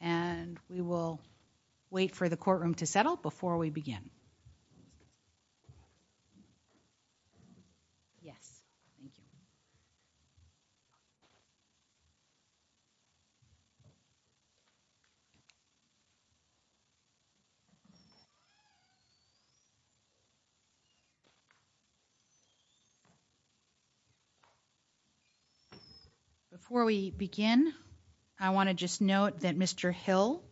and we will wait for the courtroom to settle before we begin. Before we begin, I want to just note that Mr. Hill,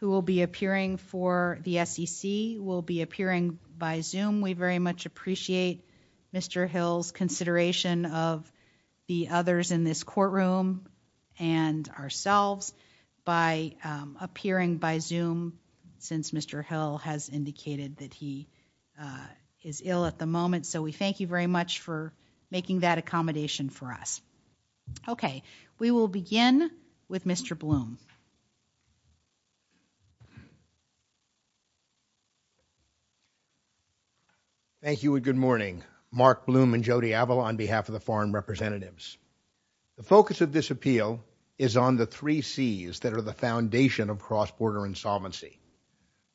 who will be appearing for the SEC, will be appearing by Zoom. We very much appreciate Mr. Hill's consideration of the others in this courtroom and ourselves by appearing by Zoom since Mr. Hill has indicated that he is ill at the moment. So we thank you very much for making that accommodation for us. Okay, we will begin with Mr. Blum. Thank you and good morning. Mark Blum and Jody Avila on behalf of the foreign representatives. The focus of this appeal is on the three C's that are the foundation of cross-border insolvency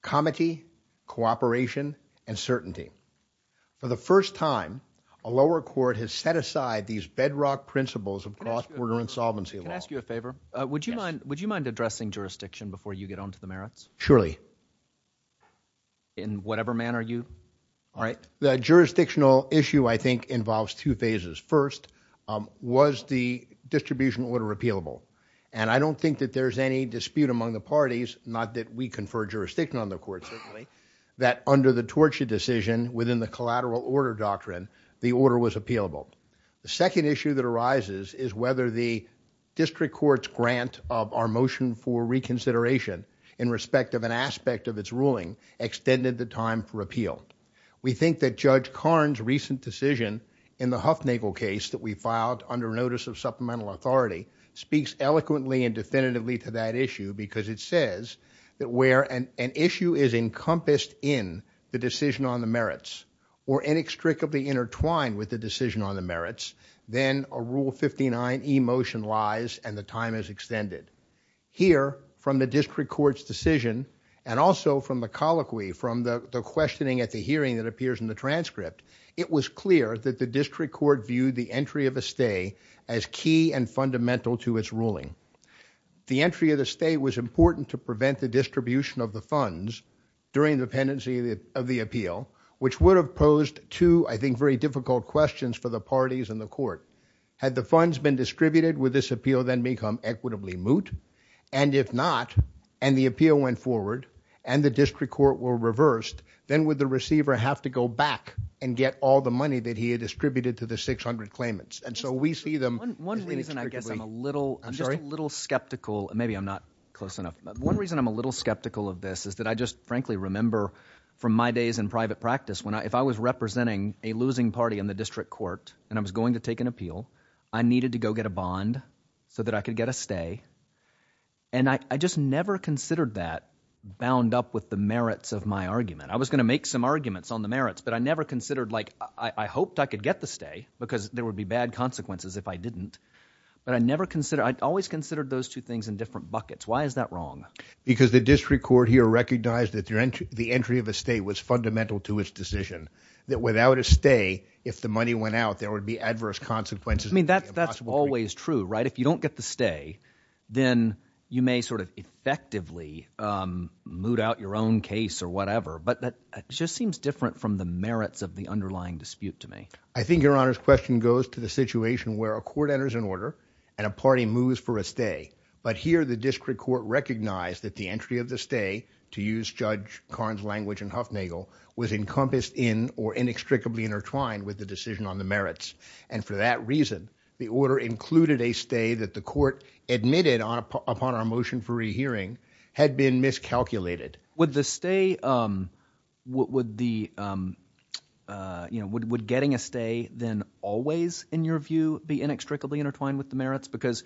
comity, cooperation, and certainty. For the first time, a lower court has set aside these bedrock principles of cross-border insolvency law. Can I ask you a favor? Would you mind addressing jurisdiction before you get onto the merits? Surely. In whatever manner you like. The jurisdictional issue I think involves two phases. First, was the distribution order and I don't think that there's any dispute among the parties, not that we confer jurisdiction on the court, certainly, that under the torture decision within the collateral order doctrine, the order was appealable. The second issue that arises is whether the district court's grant of our motion for reconsideration in respect of an aspect of its ruling extended the time for appeal. We think that Judge Karn's recent decision in the Huffnagle case that we filed under notice of supplemental authority speaks eloquently and definitively to that issue because it says that where an issue is encompassed in the decision on the merits or inextricably intertwined with the decision on the merits, then a Rule 59 e-motion lies and the time is extended. Here, from the district court's decision and also from the colloquy, from the questioning at the hearing that appears in the transcript, it was clear that the district court viewed the entry of a stay as key and fundamental to its ruling. The entry of the stay was important to prevent the distribution of the funds during the pendency of the appeal, which would have posed two, I think, very difficult questions for the parties and the court. Had the funds been distributed, would this appeal then become equitably moot? And if not, and the appeal went forward and the district court were reversed, then would the receiver have to go back and get all the money that he had distributed to the 600 claimants? And so we see them... One reason I guess I'm a little skeptical, maybe I'm not close enough, but one reason I'm a little skeptical of this is that I just frankly remember from my days in private practice, if I was representing a losing party in the district court and I was going to take an appeal, I needed to go get a bond so that I could get a stay. And I just never considered that bound up with the merits of my argument. I was going to make some arguments on the merits, but I never considered, like, I hoped I could get the stay because there would be bad consequences if I didn't, but I never considered... I always considered those two things in different buckets. Why is that wrong? Because the district court here recognized that the entry of a stay was fundamental to its decision, that without a stay, if the money went out, there would be adverse consequences. I mean, that's always true, right? If you don't get the stay, then you may sort of effectively moot out your own case or whatever, but that just seems different from the merits of the underlying dispute to me. I think your honor's question goes to the situation where a court enters an order and a party moves for a stay, but here the district court recognized that the entry of the stay, to use Judge Karn's language and Hufnagel, was encompassed in or inextricably intertwined with the decision on the merits, and for that reason, the order included a stay that the court admitted upon our motion for a stay. Would getting a stay then always, in your view, be inextricably intertwined with the merits? Because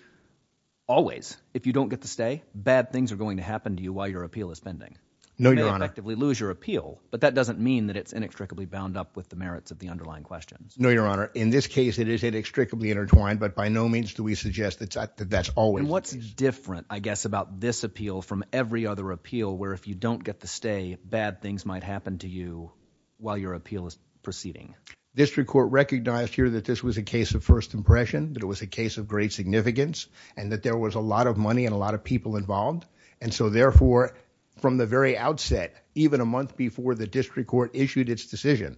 always, if you don't get the stay, bad things are going to happen to you while your appeal is pending. You may effectively lose your appeal, but that doesn't mean that it's inextricably bound up with the merits of the underlying questions. No, your honor. In this case, it is inextricably intertwined, but by no means do we suggest that that's always... And what's different, I guess, about this appeal from every other appeal where if you don't get the stay, bad things might happen to you while your appeal is proceeding. District court recognized here that this was a case of first impression, that it was a case of great significance, and that there was a lot of money and a lot of people involved, and so therefore, from the very outset, even a month before the district court issued its decision,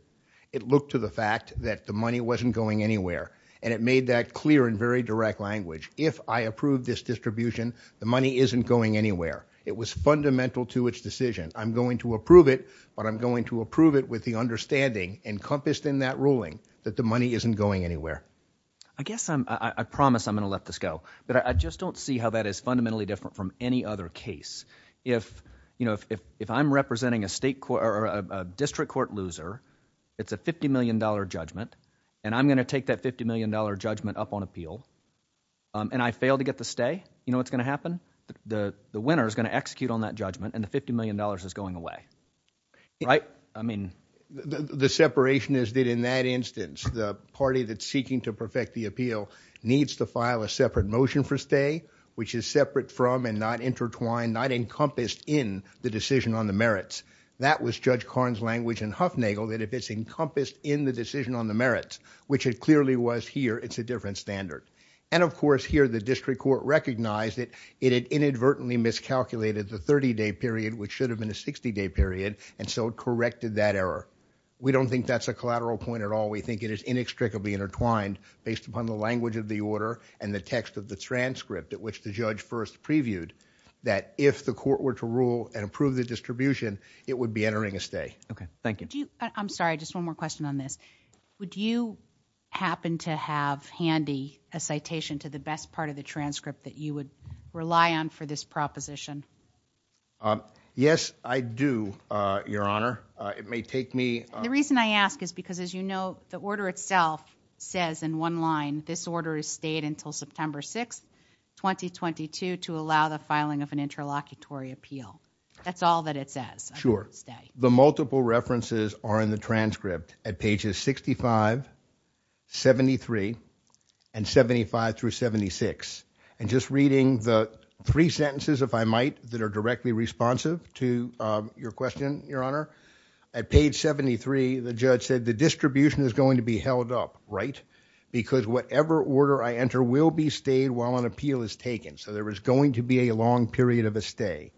it looked to the fact that the money wasn't going anywhere, and it made that clear in very direct language. If I approve this distribution, the money isn't going anywhere. It was fundamental to its decision. I'm going to approve it, but I'm going to approve it with the understanding encompassed in that ruling that the money isn't going anywhere. I guess I promise I'm going to let this go, but I just don't see how that is fundamentally different from any other case. If I'm representing a district court loser, it's a $50 million judgment, and I'm going to take that $50 million judgment up on appeal, and I fail to get the stay, you know what's going to happen? The winner is going to execute on that judgment, and the $50 million is going away, right? I mean... The separation is that in that instance, the party that's seeking to perfect the appeal needs to file a separate motion for stay, which is separate from and not intertwined, not encompassed in the decision on the merits. That was Judge Karn's language in Huffnagel, that if it's encompassed in the decision on the merits, which it clearly was here, it's a different standard, and of course, here, the district court recognized that it had inadvertently miscalculated the 30-day period, which should have been a 60-day period, and so it corrected that error. We don't think that's a collateral point at all. We think it is inextricably intertwined based upon the language of the order and the text of the transcript at which the judge first previewed that if the court were to rule and approve the distribution, it would be entering a stay. Okay. Thank you. I'm sorry. Just one more question on this. Would you happen to have handy a citation to the best part of the transcript that you would rely on for this proposition? Yes, I do, Your Honor. It may take me... The reason I ask is because, as you know, the order itself says in one line, this order is stayed until September 6, 2022, to allow the filing of an interlocutory appeal. That's all that it says. Sure. The multiple references are in the transcript at pages 65, 73, and 75 through 76. And just reading the three sentences, if I might, that are directly responsive to your question, Your Honor, at page 73, the judge said the distribution is going to be held up, right? Because whatever order I enter will be stayed while an appeal is taken. So there is going to be a long period of a stay.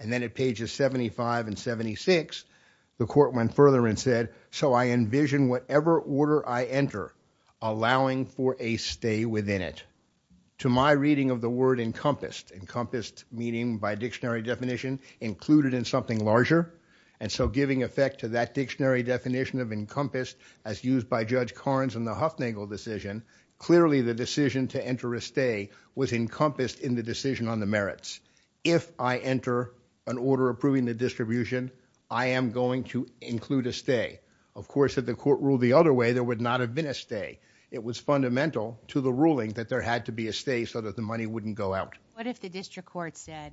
And then at pages 75 and 76, the court went further and said, so I envision whatever order I enter allowing for a stay within it. To my reading of the word encompassed, encompassed meaning by dictionary definition included in something larger. And so giving effect to that dictionary definition of encompassed as used by Judge Carnes in the Huffnagle decision, clearly the decision to enter a stay was encompassed in the decision on the merits. If I enter an order approving the distribution, I am going to of course, if the court ruled the other way, there would not have been a stay. It was fundamental to the ruling that there had to be a stay so that the money wouldn't go out. What if the district court said,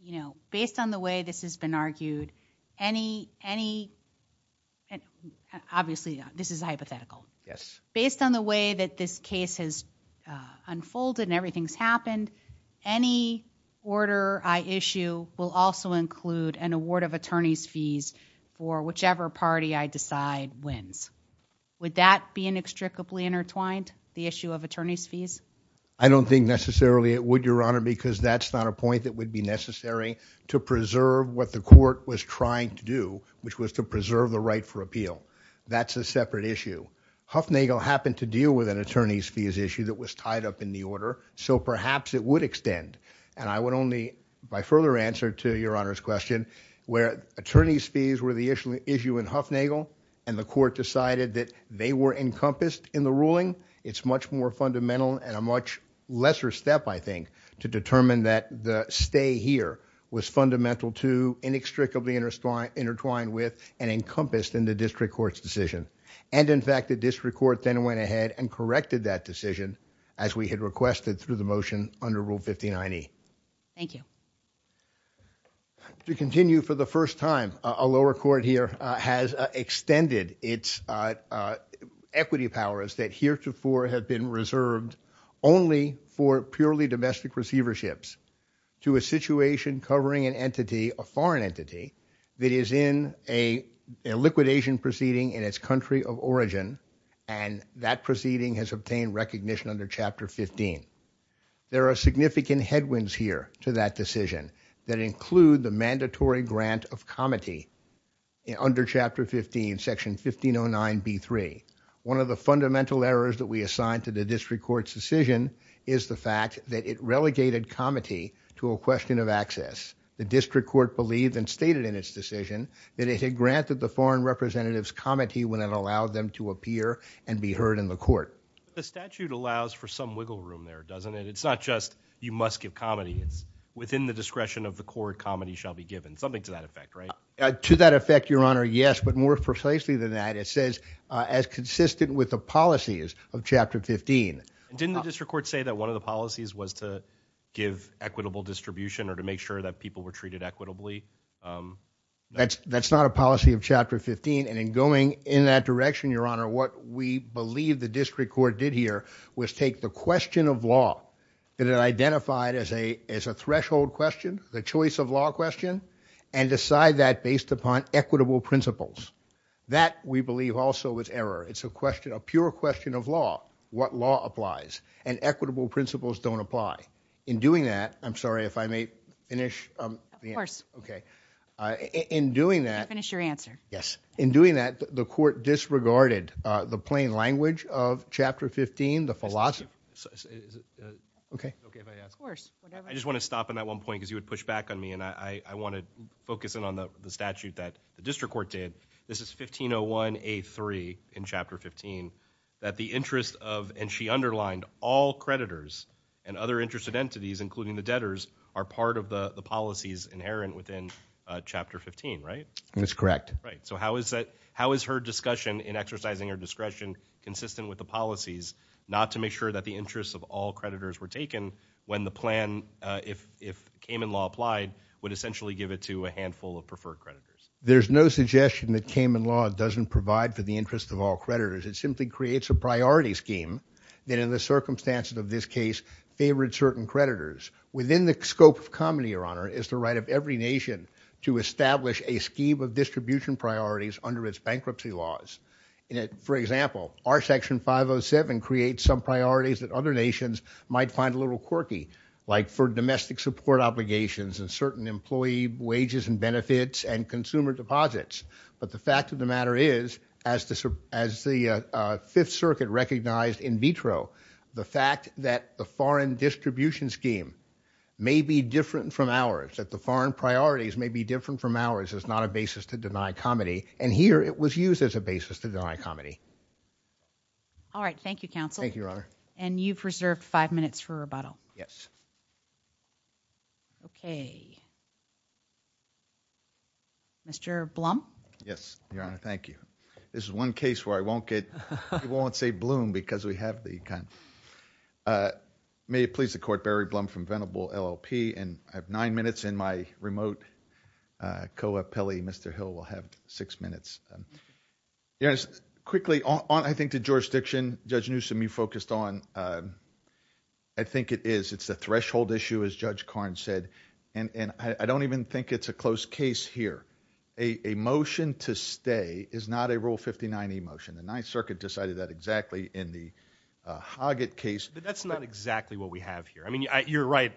you know, based on the way this has been argued, any, any, obviously this is hypothetical. Yes. Based on the way that this case has unfolded and everything's happened, any order I issue will also include an award of attorney's fees for whichever party I decide wins. Would that be inextricably intertwined? The issue of attorney's fees? I don't think necessarily it would, Your Honor, because that's not a point that would be necessary to preserve what the court was trying to do, which was to preserve the right for appeal. That's a separate issue. Huffnagle happened to deal with an attorney's fees issue that was tied up in the order, so perhaps it would extend. And I would only, by further answer to Your Honor's question, where attorney's fees were the issue in Huffnagle and the court decided that they were encompassed in the ruling, it's much more fundamental and a much lesser step, I think, to determine that the stay here was fundamental to inextricably intertwined with and encompassed in the district court's decision. And in fact, the district court then went ahead and corrected that we had requested through the motion under Rule 59E. Thank you. To continue for the first time, a lower court here has extended its equity powers that heretofore have been reserved only for purely domestic receiverships to a situation covering an entity, a foreign entity, that is in a liquidation proceeding in its country of origin, and that proceeding has obtained recognition under Chapter 15. There are significant headwinds here to that decision that include the mandatory grant of comity under Chapter 15, Section 1509B3. One of the fundamental errors that we assigned to the district court's decision is the fact that it relegated comity to a question of access. The district court believed and stated in its decision that it had granted the foreign representatives comity when it allowed them to appear and be heard in the court. The statute allows for some wiggle room there, doesn't it? It's not just you must give comity, it's within the discretion of the court, comity shall be given. Something to that effect, right? To that effect, your honor, yes, but more precisely than that, it says as consistent with the policies of Chapter 15. Didn't the district court say that one of the policies was to give equitable distribution or to in that direction, your honor, what we believe the district court did here was take the question of law that it identified as a threshold question, the choice of law question, and decide that based upon equitable principles. That we believe also was error. It's a question, a pure question of law, what law applies, and equitable principles don't apply. In doing that, I'm sorry if I may finish. Okay, in doing that, finish your answer. Yes, in doing that, the court disregarded the plain language of Chapter 15, the philosophy. Is it okay if I ask? Of course. I just want to stop at that one point because you would push back on me, and I want to focus in on the statute that the district court did. This is 1501A3 in Chapter 15 that the interest of, and she underlined, all creditors and other interested entities, including the debtors, are part of the policies inherent within Chapter 15, right? That's correct. Right, so how is that, how is her discussion in exercising her discretion consistent with the policies not to make sure that the interests of all creditors were taken when the plan, if Kamin law applied, would essentially give it to a handful of preferred creditors? There's no suggestion that Kamin law doesn't provide for that in the circumstances of this case favored certain creditors. Within the scope of Kamin, Your Honor, is the right of every nation to establish a scheme of distribution priorities under its bankruptcy laws. For example, our Section 507 creates some priorities that other nations might find a little quirky, like for domestic support obligations and certain employee wages and benefits and consumer deposits, but the fact of the matter is, as the Fifth Circuit recognized in vitro, the fact that the foreign distribution scheme may be different from ours, that the foreign priorities may be different from ours, is not a basis to deny comedy, and here it was used as a basis to deny comedy. All right, thank you, counsel. Thank you, Your Honor. Mr. Blum? Yes, Your Honor, thank you. This is one case where I won't get, you won't say bloom because we have the kind, uh, may it please the court, Barry Blum from Venable LLP, and I have nine minutes in my remote, uh, co-appellee, Mr. Hill will have six minutes. Your Honor, quickly, on, I think, to jurisdiction, Judge Newsom, you focused on, uh, I think it is, it's a threshold issue, as Judge Karnes said, and, and I don't even think it's a close case here. A, a motion to stay is not a Rule 59e motion. The Ninth Circuit decided that exactly in the, uh, Hoggett case. But that's not exactly what we have here. I mean, I, you're right,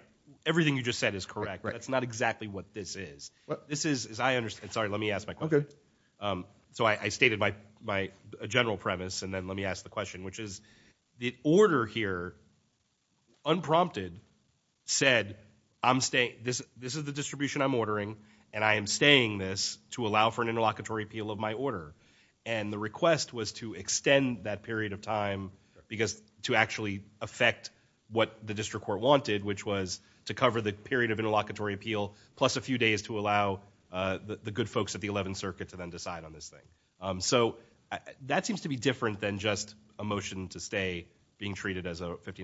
everything you just said is correct. That's not exactly what this is. This is, as I understand, sorry, let me ask my question. Um, so I, I stated my, my general premise, and then let me ask the said, I'm staying, this, this is the distribution I'm ordering, and I am staying this to allow for an interlocutory appeal of my order. And the request was to extend that period of time because to actually affect what the district court wanted, which was to cover the period of interlocutory appeal plus a few days to allow, uh, the, the good folks at the Eleventh Circuit to then decide on this thing. Um, so that seems to be different than just a motion to stay being treated as a by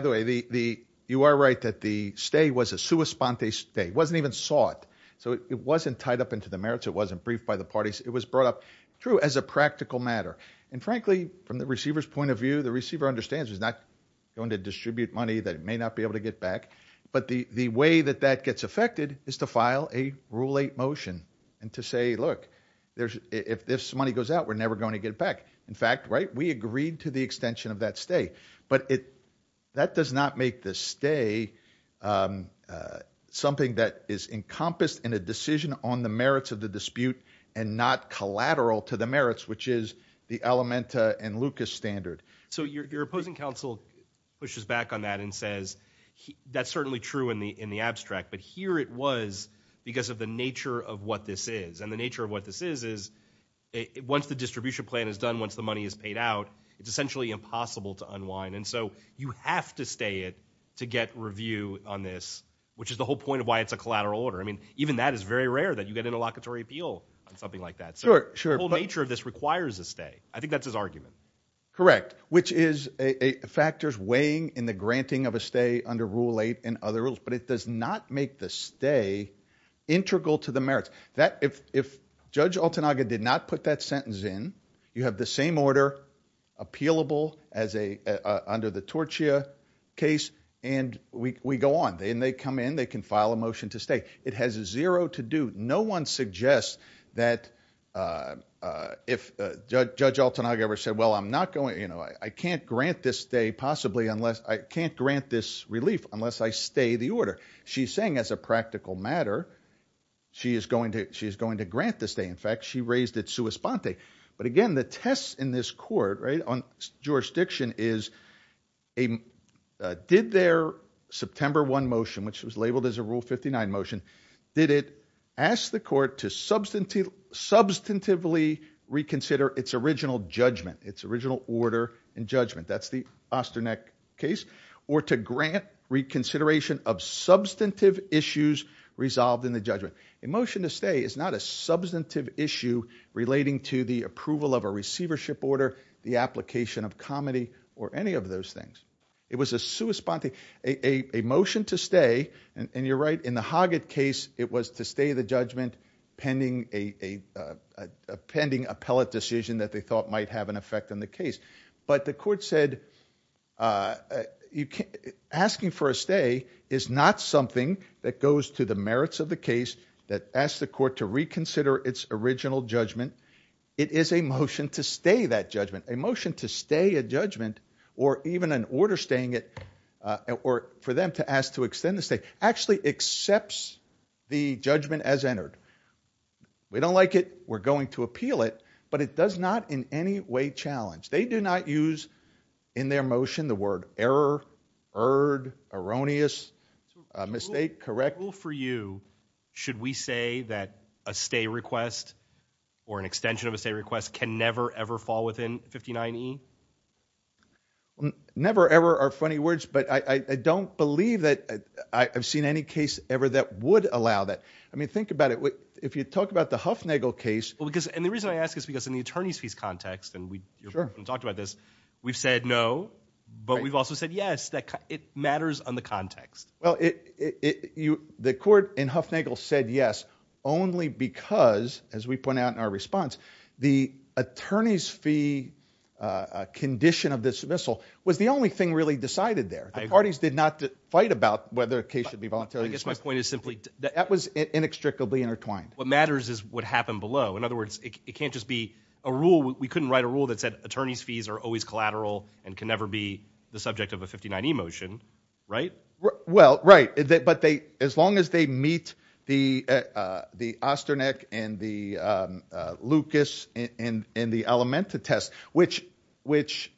the way, the, the, you are right that the stay was a sua sponte stay. It wasn't even sought. So it wasn't tied up into the merits. It wasn't briefed by the parties. It was brought up through as a practical matter. And frankly, from the receiver's point of view, the receiver understands it's not going to distribute money that it may not be able to get back. But the, the way that that gets affected is to file a Rule 8 motion and to say, look, there's, if this money goes out, we're never going to get it back. In fact, right, we agreed to the extension of that stay, but it, that does not make this stay, um, uh, something that is encompassed in a decision on the merits of the dispute and not collateral to the merits, which is the Elementa and Lucas standard. So your, your opposing counsel pushes back on that and says, that's certainly true in the, in the abstract, but here it was because of the nature of what this is and the nature of what this is, is it, once the distribution plan is done, once the to unwind. And so you have to stay it to get review on this, which is the whole point of why it's a collateral order. I mean, even that is very rare that you get interlocutory appeal on something like that. So the whole nature of this requires a stay. I think that's his argument. Correct. Which is a factors weighing in the granting of a stay under Rule 8 and other rules, but it does not make the stay integral to the merits that if, if Judge Altanaga did not put that sentence in, you have the same order appealable as a, uh, under the Tortia case and we, we go on and they come in, they can file a motion to stay. It has zero to do. No one suggests that, uh, uh, if, uh, Judge Altanaga ever said, well, I'm not going, you know, I can't grant this stay possibly unless I can't grant this relief unless I stay the order she's saying as a practical matter, she is going to, she's going to grant the stay. In fact, she raised it sua sponte. But again, the tests in this court, right on jurisdiction is a, uh, did their September one motion, which was labeled as a Rule 59 motion, did it ask the court to substantive, substantively reconsider its original judgment, its original order and judgment. That's the reconsideration of substantive issues resolved in the judgment. A motion to stay is not a substantive issue relating to the approval of a receivership order, the application of comity or any of those things. It was a sua sponte, a, a, a motion to stay and you're right in the Hoggett case, it was to stay the judgment pending a, a, a pending appellate decision that they thought might have an effect on the case. But the court said, uh, asking for a stay is not something that goes to the merits of the case that asked the court to reconsider its original judgment. It is a motion to stay that judgment, a motion to stay a judgment or even an order staying it, uh, or for them to ask to extend the state actually accepts the judgment as entered. We don't like it, we're going to appeal it, but it does not in any way challenge, they do not use in their motion, the word error, erred, erroneous, a mistake, correct. Rule for you, should we say that a stay request or an extension of a stay request can never, ever fall within 59E? Never, ever are funny words, but I, I don't believe that I've seen any case ever that would allow that. I mean, think about it. If you talk about the Huffnagel case, because, and the reason I ask is because in the attorney's fees context, and we talked about this, we've said no, but we've also said yes, that it matters on the context. Well, it, it, you, the court in Huffnagel said yes, only because as we point out in our response, the attorney's fee, uh, condition of dismissal was the only thing really decided there. The parties did not fight about whether a case should be voluntary. I guess my point is simply that was inextricably intertwined. What matters is what happened below. In other words, it can't just be a rule. We couldn't write a rule that said attorney's fees are always collateral and can never be the subject of a 59E motion, right? Well, right. But they, as long as they meet the, uh, the Osterneck and the, um, uh, Lucas and, and, and the Alimenta test, which, which,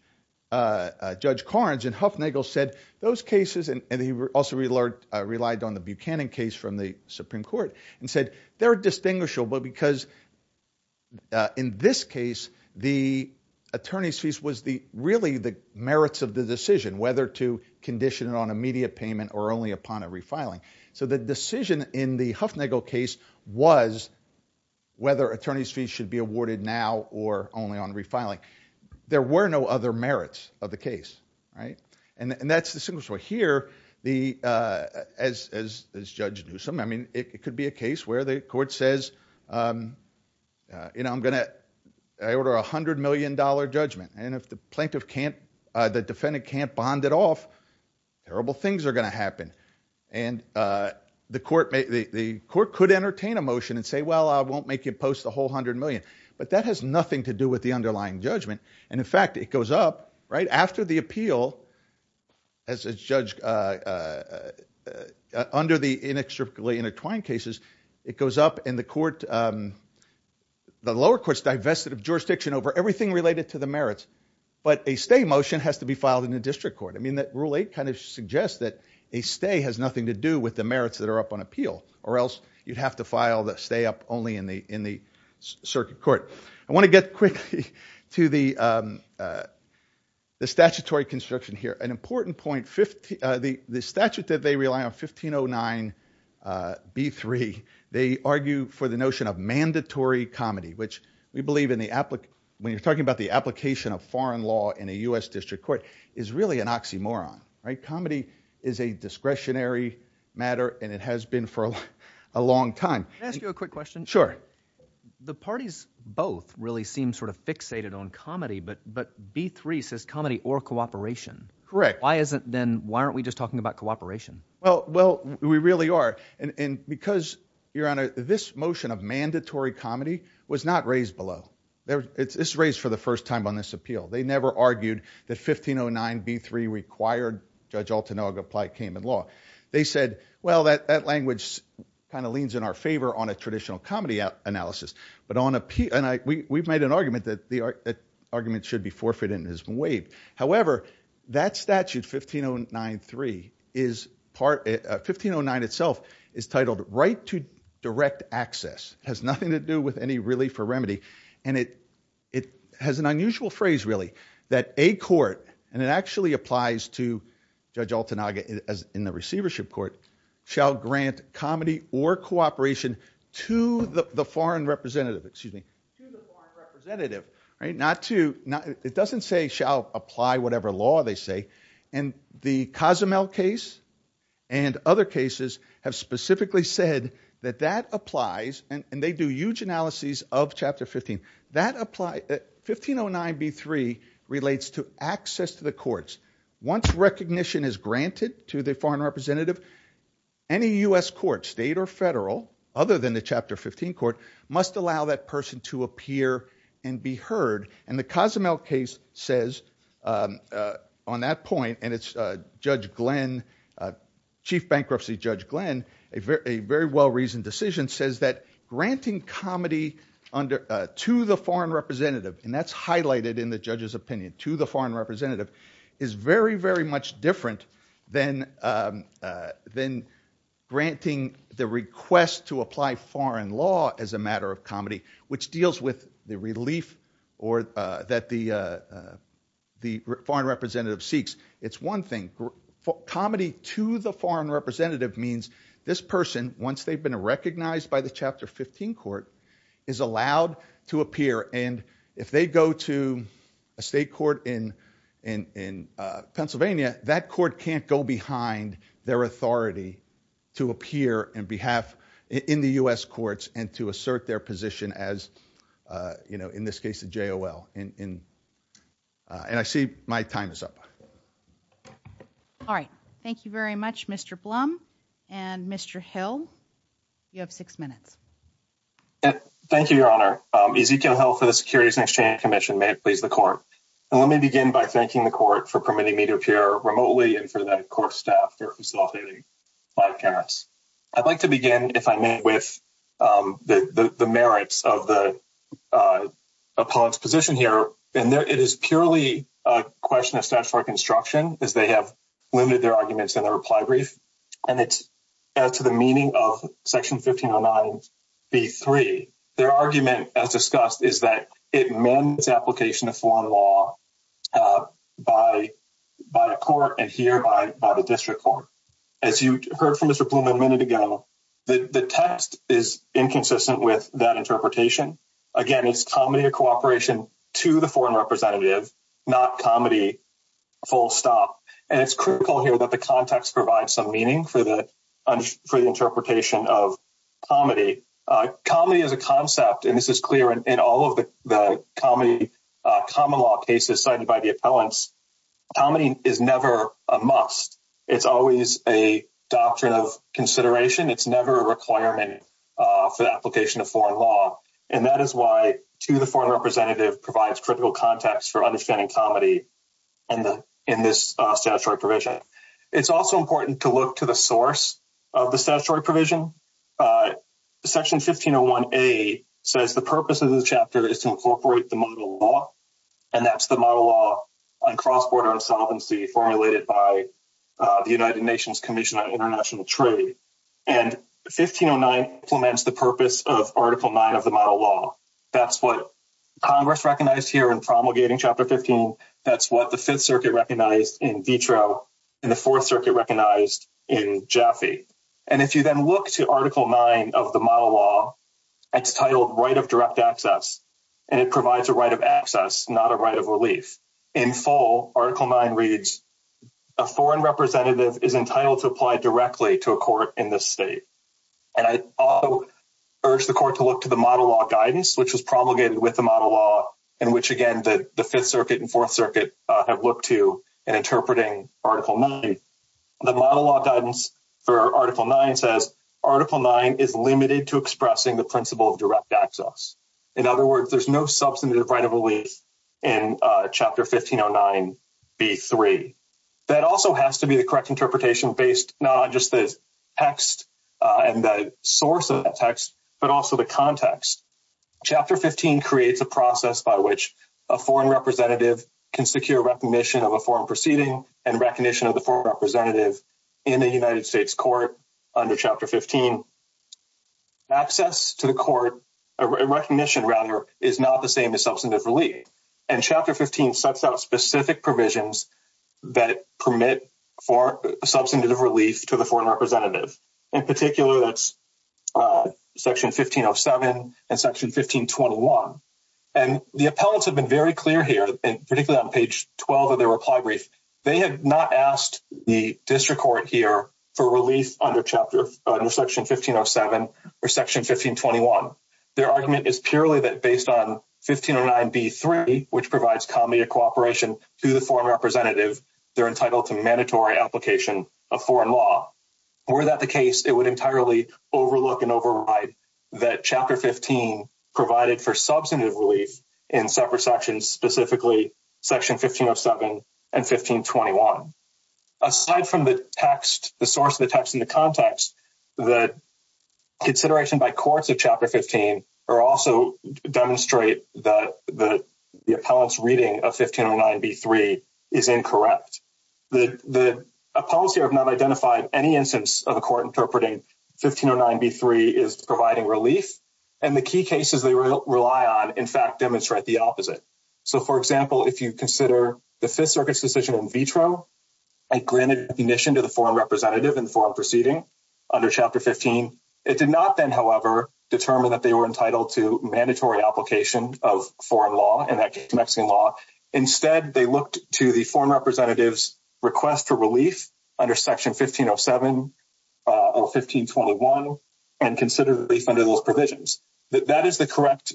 uh, uh, Judge Karnes and Huffnagel said those cases, and he also relied on the Buchanan case from the Supreme Court and said, they're distinguishable because, uh, in this case, the attorney's fees was the, really the merits of the decision, whether to condition it on immediate payment or only upon a refiling. So the decision in the Huffnagel case was whether attorney's fees should be awarded now or only on refiling. There were no other merits of the case, right? And, and that's the single story here. The, uh, as, as, as Judge Newsome, I mean, it could be a case where the court says, um, uh, you know, I'm going to, I order a hundred million dollar judgment. And if the plaintiff can't, uh, the defendant can't bond it off, terrible things are going to happen. And, uh, the court may, the court could entertain a motion and say, well, I won't make you post the whole hundred million, but that has nothing to do with the underlying judgment. And in fact, it goes up right after the appeal as a judge, uh, uh, uh, uh, uh, under the inextricably intertwined cases, it goes up in the court. Um, the lower courts divested of jurisdiction over everything related to the merits, but a stay motion has to be filed in the district court. I mean, that rule eight kind of suggests that a stay has nothing to do with the merits that are up on appeal or else you'd have to file the stay up only in the, in the circuit court. I want to get quickly to the, um, uh, the statutory construction here, an important point 50, uh, the, the statute that they rely on 1509, uh, B3, they argue for the notion of mandatory comedy, which we believe in the applicant. When you're talking about the application of foreign law in a U S district court is really an oxymoron, right? Comedy is a discretionary matter. And it has been for a long time. Can I ask you a quick question? Sure. The parties both really seem sort of fixated on comedy, but, but B3 says comedy or cooperation. Correct. Why isn't then, why aren't we just talking about cooperation? Well, well, we really are. And because you're on a, this motion of mandatory comedy was not raised below there. It's, it's raised for the first time on this appeal. They never argued that 1509 B3 required judge Altenau to apply came in law. They said, well, that, that language kind of leans in our favor on a traditional comedy out analysis, but on a P and I, we, we've made an argument that the argument should be forfeit and has been waived. However, that statute 1509 three is part, uh, 1509 itself is titled right to direct access has nothing to do with any relief or remedy. And it, it has an unusual phrase really that a court, and it actually applies to judge Altenau as in the receivership court shall grant comedy or cooperation to the, the foreign representative, excuse me, to the representative, right? Not to not, it doesn't say shall apply whatever law they say. And the Cozumel case and other cases have specifically said that that applies and they do huge analyses of chapter 15 that apply 1509 B3 relates to access to the courts. Once recognition is granted to the foreign representative, any U S court state or federal other than the chapter 15 court must allow that person to appear and be heard. And the Cozumel case says, um, uh, on that point and it's a judge Glenn, uh, chief bankruptcy judge Glenn, a very, a very well reasoned decision says that granting comedy under, uh, to the foreign representative, and that's highlighted in the judge's opinion to the foreign representative is very, very much different than, um, uh, than granting the request to apply foreign law as a matter of comedy, which deals with the relief or, uh, that the, uh, uh, the foreign representative seeks. It's one thing for comedy to the foreign representative means this person, once they've recognized by the chapter 15 court is allowed to appear. And if they go to a state court in, in, in, uh, Pennsylvania, that court can't go behind their authority to appear in behalf in the U S courts and to assert their position as, uh, you know, in this case, the JOL in, in, uh, I see my time is up. All right. Thank you very much, Mr. Blum and Mr. Hill. You have six minutes. Thank you, your honor. Um, Ezekiel Hill for the securities and exchange commission, may it please the court. And let me begin by thanking the court for permitting me to appear remotely and for that of course, staff for facilitating my parents. I'd like to begin if I met with, um, the, the, the merits of the, uh, upon its position here. And there, it is purely a question of statutory construction as they have limited their arguments in the reply brief. And it's as to the meaning of section 1509 B3, their argument as discussed is that it men's application of foreign law, uh, by, by a court and here by, by the district court, as you heard from Mr. Blum a minute ago, the text is inconsistent with that interpretation. Again, it's comedy or cooperation to the foreign representative, not comedy full stop. And it's critical here that the context provides some meaning for the, for the interpretation of comedy, uh, comedy as a concept. And this is clear in all of the, the comedy, uh, common law cases cited by the appellants. Comedy is never a must. It's always a doctrine of consideration. It's never a requirement, uh, for the application of foreign law. And that is why to the foreign representative provides critical context for understanding comedy and the, in this statutory provision, it's also important to look to the source of the statutory provision. Uh, section 1501 a says the purpose of this chapter is to incorporate the model law. And that's the model law on cross-border insolvency formulated by, uh, the United Nations commission on international trade and 1509 implements the purpose of article nine of the model law. That's what Congress recognized here in promulgating chapter 15. That's what the fifth circuit recognized in vitro and the fourth circuit recognized in Jaffe. And if you then look to article nine of the model law, it's titled right of direct access, and it provides a right of access, not a right of relief in full article nine reads a foreign representative is entitled to apply directly to a court in this state. And I urge the court to look to the model law guidance, which was promulgated with the model law in which again, the fifth circuit and fourth circuit, uh, have looked to in interpreting article nine, the model law guidance for article nine says article nine is limited to expressing the principle of direct access. In other words, there's no substantive right of relief in chapter 1509 B3. That also has to be the correct interpretation based, not just the text, uh, source of the text, but also the context chapter 15 creates a process by which a foreign representative can secure recognition of a foreign proceeding and recognition of the foreign representative in the United States court under chapter 15, access to the court recognition rather is not the same as substantive relief. And chapter 15 sets out specific provisions that permit for substantive relief to the foreign in particular that's, uh, section 1507 and section 1521. And the appellants have been very clear here, particularly on page 12 of their reply brief. They have not asked the district court here for relief under chapter under section 1507 or section 1521. Their argument is purely that based on 1509 B3, which provides comedy or cooperation to the foreign representative, they're entitled to mandatory application of foreign law. Were that the case, it would entirely overlook and override that chapter 15 provided for substantive relief in separate sections, specifically section 1507 and 1521. Aside from the text, the source of the text in the context, the consideration by courts of chapter 15 are also demonstrate that the, the appellant's reading of the policy have not identified any instance of a court interpreting 1509 B3 is providing relief. And the key cases they rely on, in fact, demonstrate the opposite. So for example, if you consider the fifth circuit's decision in vitro, I granted admission to the foreign representative in the foreign proceeding under chapter 15. It did not then, however, determine that they were entitled to mandatory application of foreign law and Mexican law. Instead, they looked to the foreign representative's request for relief under section 1507 or 1521 and consider relief under those provisions. That is the correct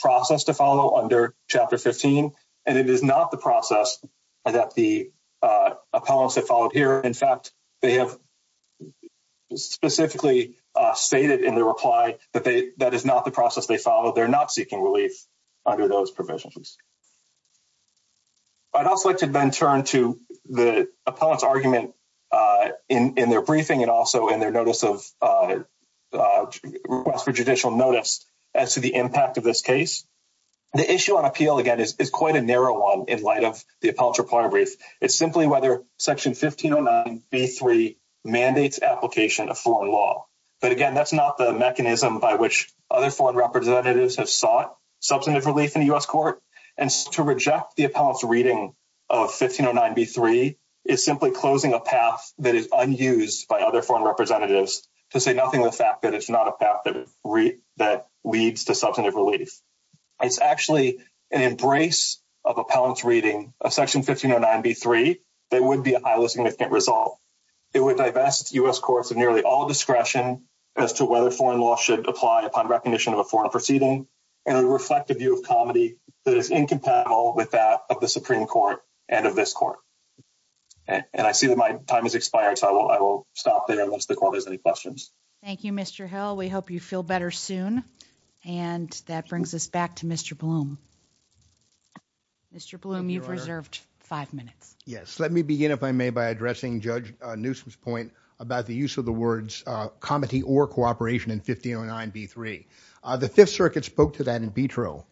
process to follow under chapter 15, and it is not the process that the appellants have followed here. In fact, they have specifically stated in the reply that they, that is not the process they follow. They're not seeking under those provisions. I'd also like to then turn to the appellant's argument in, in their briefing and also in their notice of request for judicial notice as to the impact of this case. The issue on appeal, again, is quite a narrow one in light of the appellant's report brief. It's simply whether section 1509 B3 mandates application of foreign law. But again, that's not the mechanism by which other foreign representatives have sought substantive relief in the U.S. court. And to reject the appellant's reading of 1509 B3 is simply closing a path that is unused by other foreign representatives to say nothing of the fact that it's not a path that leads to substantive relief. It's actually an embrace of appellant's reading of section 1509 B3 that would be a highly significant result. It would divest U.S. courts of nearly all discretion as to whether foreign law should apply upon recognition of a foreign proceeding. And it would reflect a view of comedy that is incompatible with that of the Supreme Court and of this court. And I see that my time has expired, so I will stop there unless the court has any questions. Thank you, Mr. Hill. We hope you feel better soon. And that brings us back to Mr. Bloom. Mr. Bloom, you've reserved five minutes. Yes. Let me begin, if I may, by addressing Judge Newsom's point about the use of the words comedy or cooperation in 1509 B3. The Fifth Circuit spoke to that in vitro,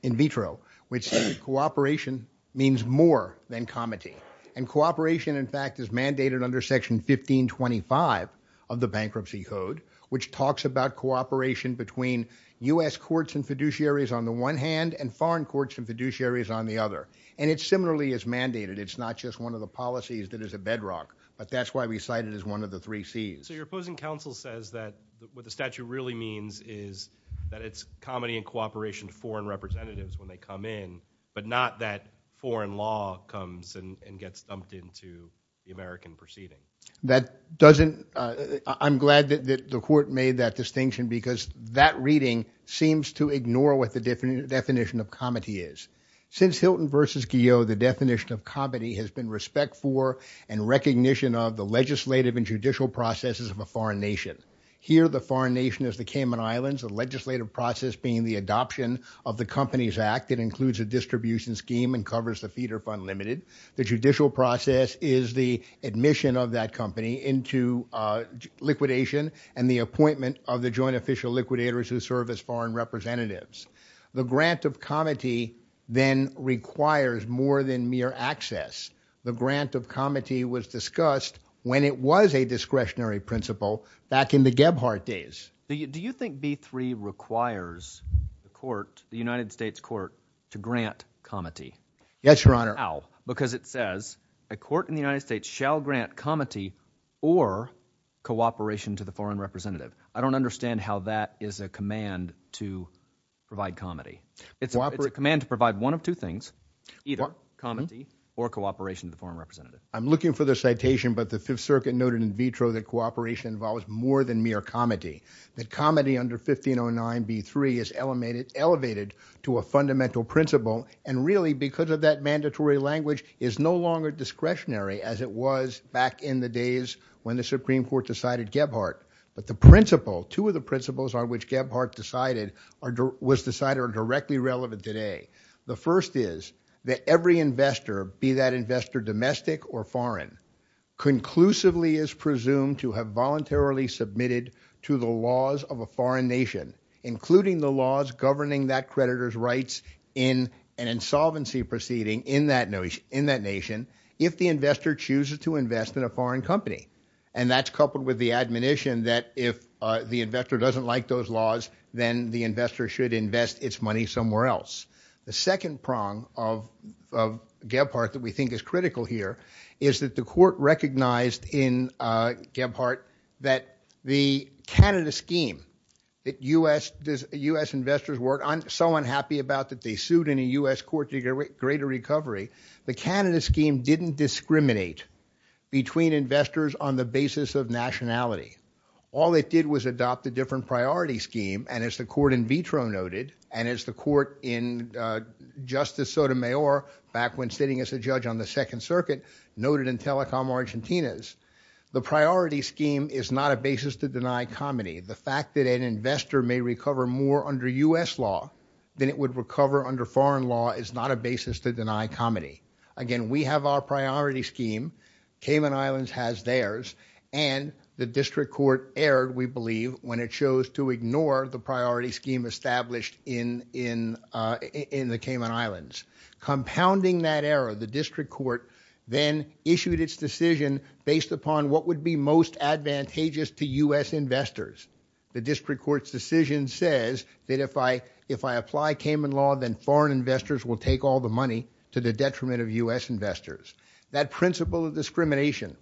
which cooperation means more than comedy. And cooperation, in fact, is mandated under section 1525 of the Bankruptcy Code, which talks about cooperation between U.S. courts and fiduciaries on the one hand and foreign courts and fiduciaries on the other. And it similarly is mandated. It's not just one of the policies that is a bedrock, but that's why we cite it as one of the three Cs. Your opposing counsel says that what the statute really means is that it's comedy and cooperation to foreign representatives when they come in, but not that foreign law comes and gets dumped into the American proceeding. I'm glad that the court made that distinction because that reading seems to ignore what the definition of comedy is. Since Hilton v. Guillot, the definition of comedy has been respect for and recognition of the legislative and judicial processes of a foreign nation. Here, the foreign nation is the Cayman Islands, the legislative process being the adoption of the Companies Act. It includes a distribution scheme and covers the feeder fund limited. The judicial process is the admission of that company into liquidation and the appointment of the joint official liquidators who serve as foreign representatives. The grant of comedy then requires more than mere access. The grant of comedy was discussed when it was a discretionary principle back in the Gebhardt days. Do you think B3 requires the court, the United States court, to grant comedy? Yes, Your Honor. How? Because it says a court in the United States shall grant comedy or cooperation to the foreign representative. I don't understand how that is a command to provide comedy. It's a command to provide one of two things, either comedy or cooperation to the foreign representative. I'm looking for the citation, but the Fifth Circuit noted in vitro that cooperation involves more than mere comedy. That comedy under 1509 B3 is elevated to a fundamental principle and really because of that mandatory language is no longer discretionary as it was back in the days when the Supreme Court decided Gebhardt. But the principle, two of the principles on which Gebhardt was decided are directly relevant today. The first is that every investor, be that investor domestic or foreign, conclusively is presumed to have voluntarily submitted to the laws of a foreign nation, including the laws governing that creditor's rights in an insolvency proceeding in that nation if the investor chooses to invest in a foreign company. And that's coupled with the admonition that if the investor doesn't like those laws, then the investor should invest its money somewhere else. The second prong of Gebhardt that we think is critical here is that the court recognized in Gebhardt that the Canada scheme that US investors work, I'm so unhappy about that they didn't discriminate between investors on the basis of nationality. All it did was adopt a different priority scheme and as the court in vitro noted and as the court in Justice Sotomayor back when sitting as a judge on the second circuit noted in Telecom Argentinas, the priority scheme is not a basis to deny comedy. The fact that an investor may recover more under US law than it would recover under foreign law is not a basis to deny comedy. Again, we have our priority scheme, Cayman Islands has theirs, and the district court erred, we believe, when it chose to ignore the priority scheme established in the Cayman Islands. Compounding that error, the district court then issued its decision based upon what would be most advantageous to US investors. The district court's decision says that if I apply Cayman law, then foreign investors will take all the money to the detriment of US investors. That principle of discrimination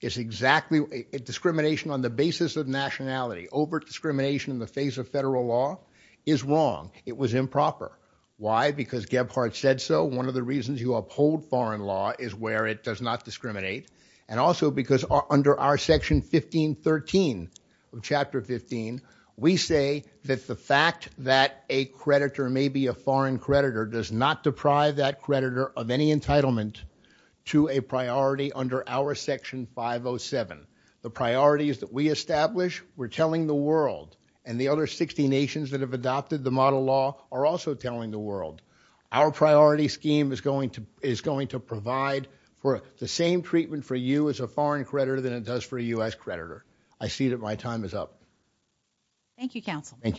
is exactly discrimination on the basis of nationality. Overt discrimination in the face of federal law is wrong. It was improper. Why? Because Gebhardt said so. One of the reasons you uphold foreign law is where it does not discriminate and also because under our section 1513 of chapter 15, we say that the fact that a creditor may be a foreign creditor does not deprive that creditor of any entitlement to a priority under our section 507. The priorities that we establish, we're telling the world, and the other 60 nations that have adopted the model law are also telling the world. Our priority scheme is going to provide for the same treatment for you as a foreign creditor than it does for a US creditor. I see that my time is up. Thank you, counsel. Thank you.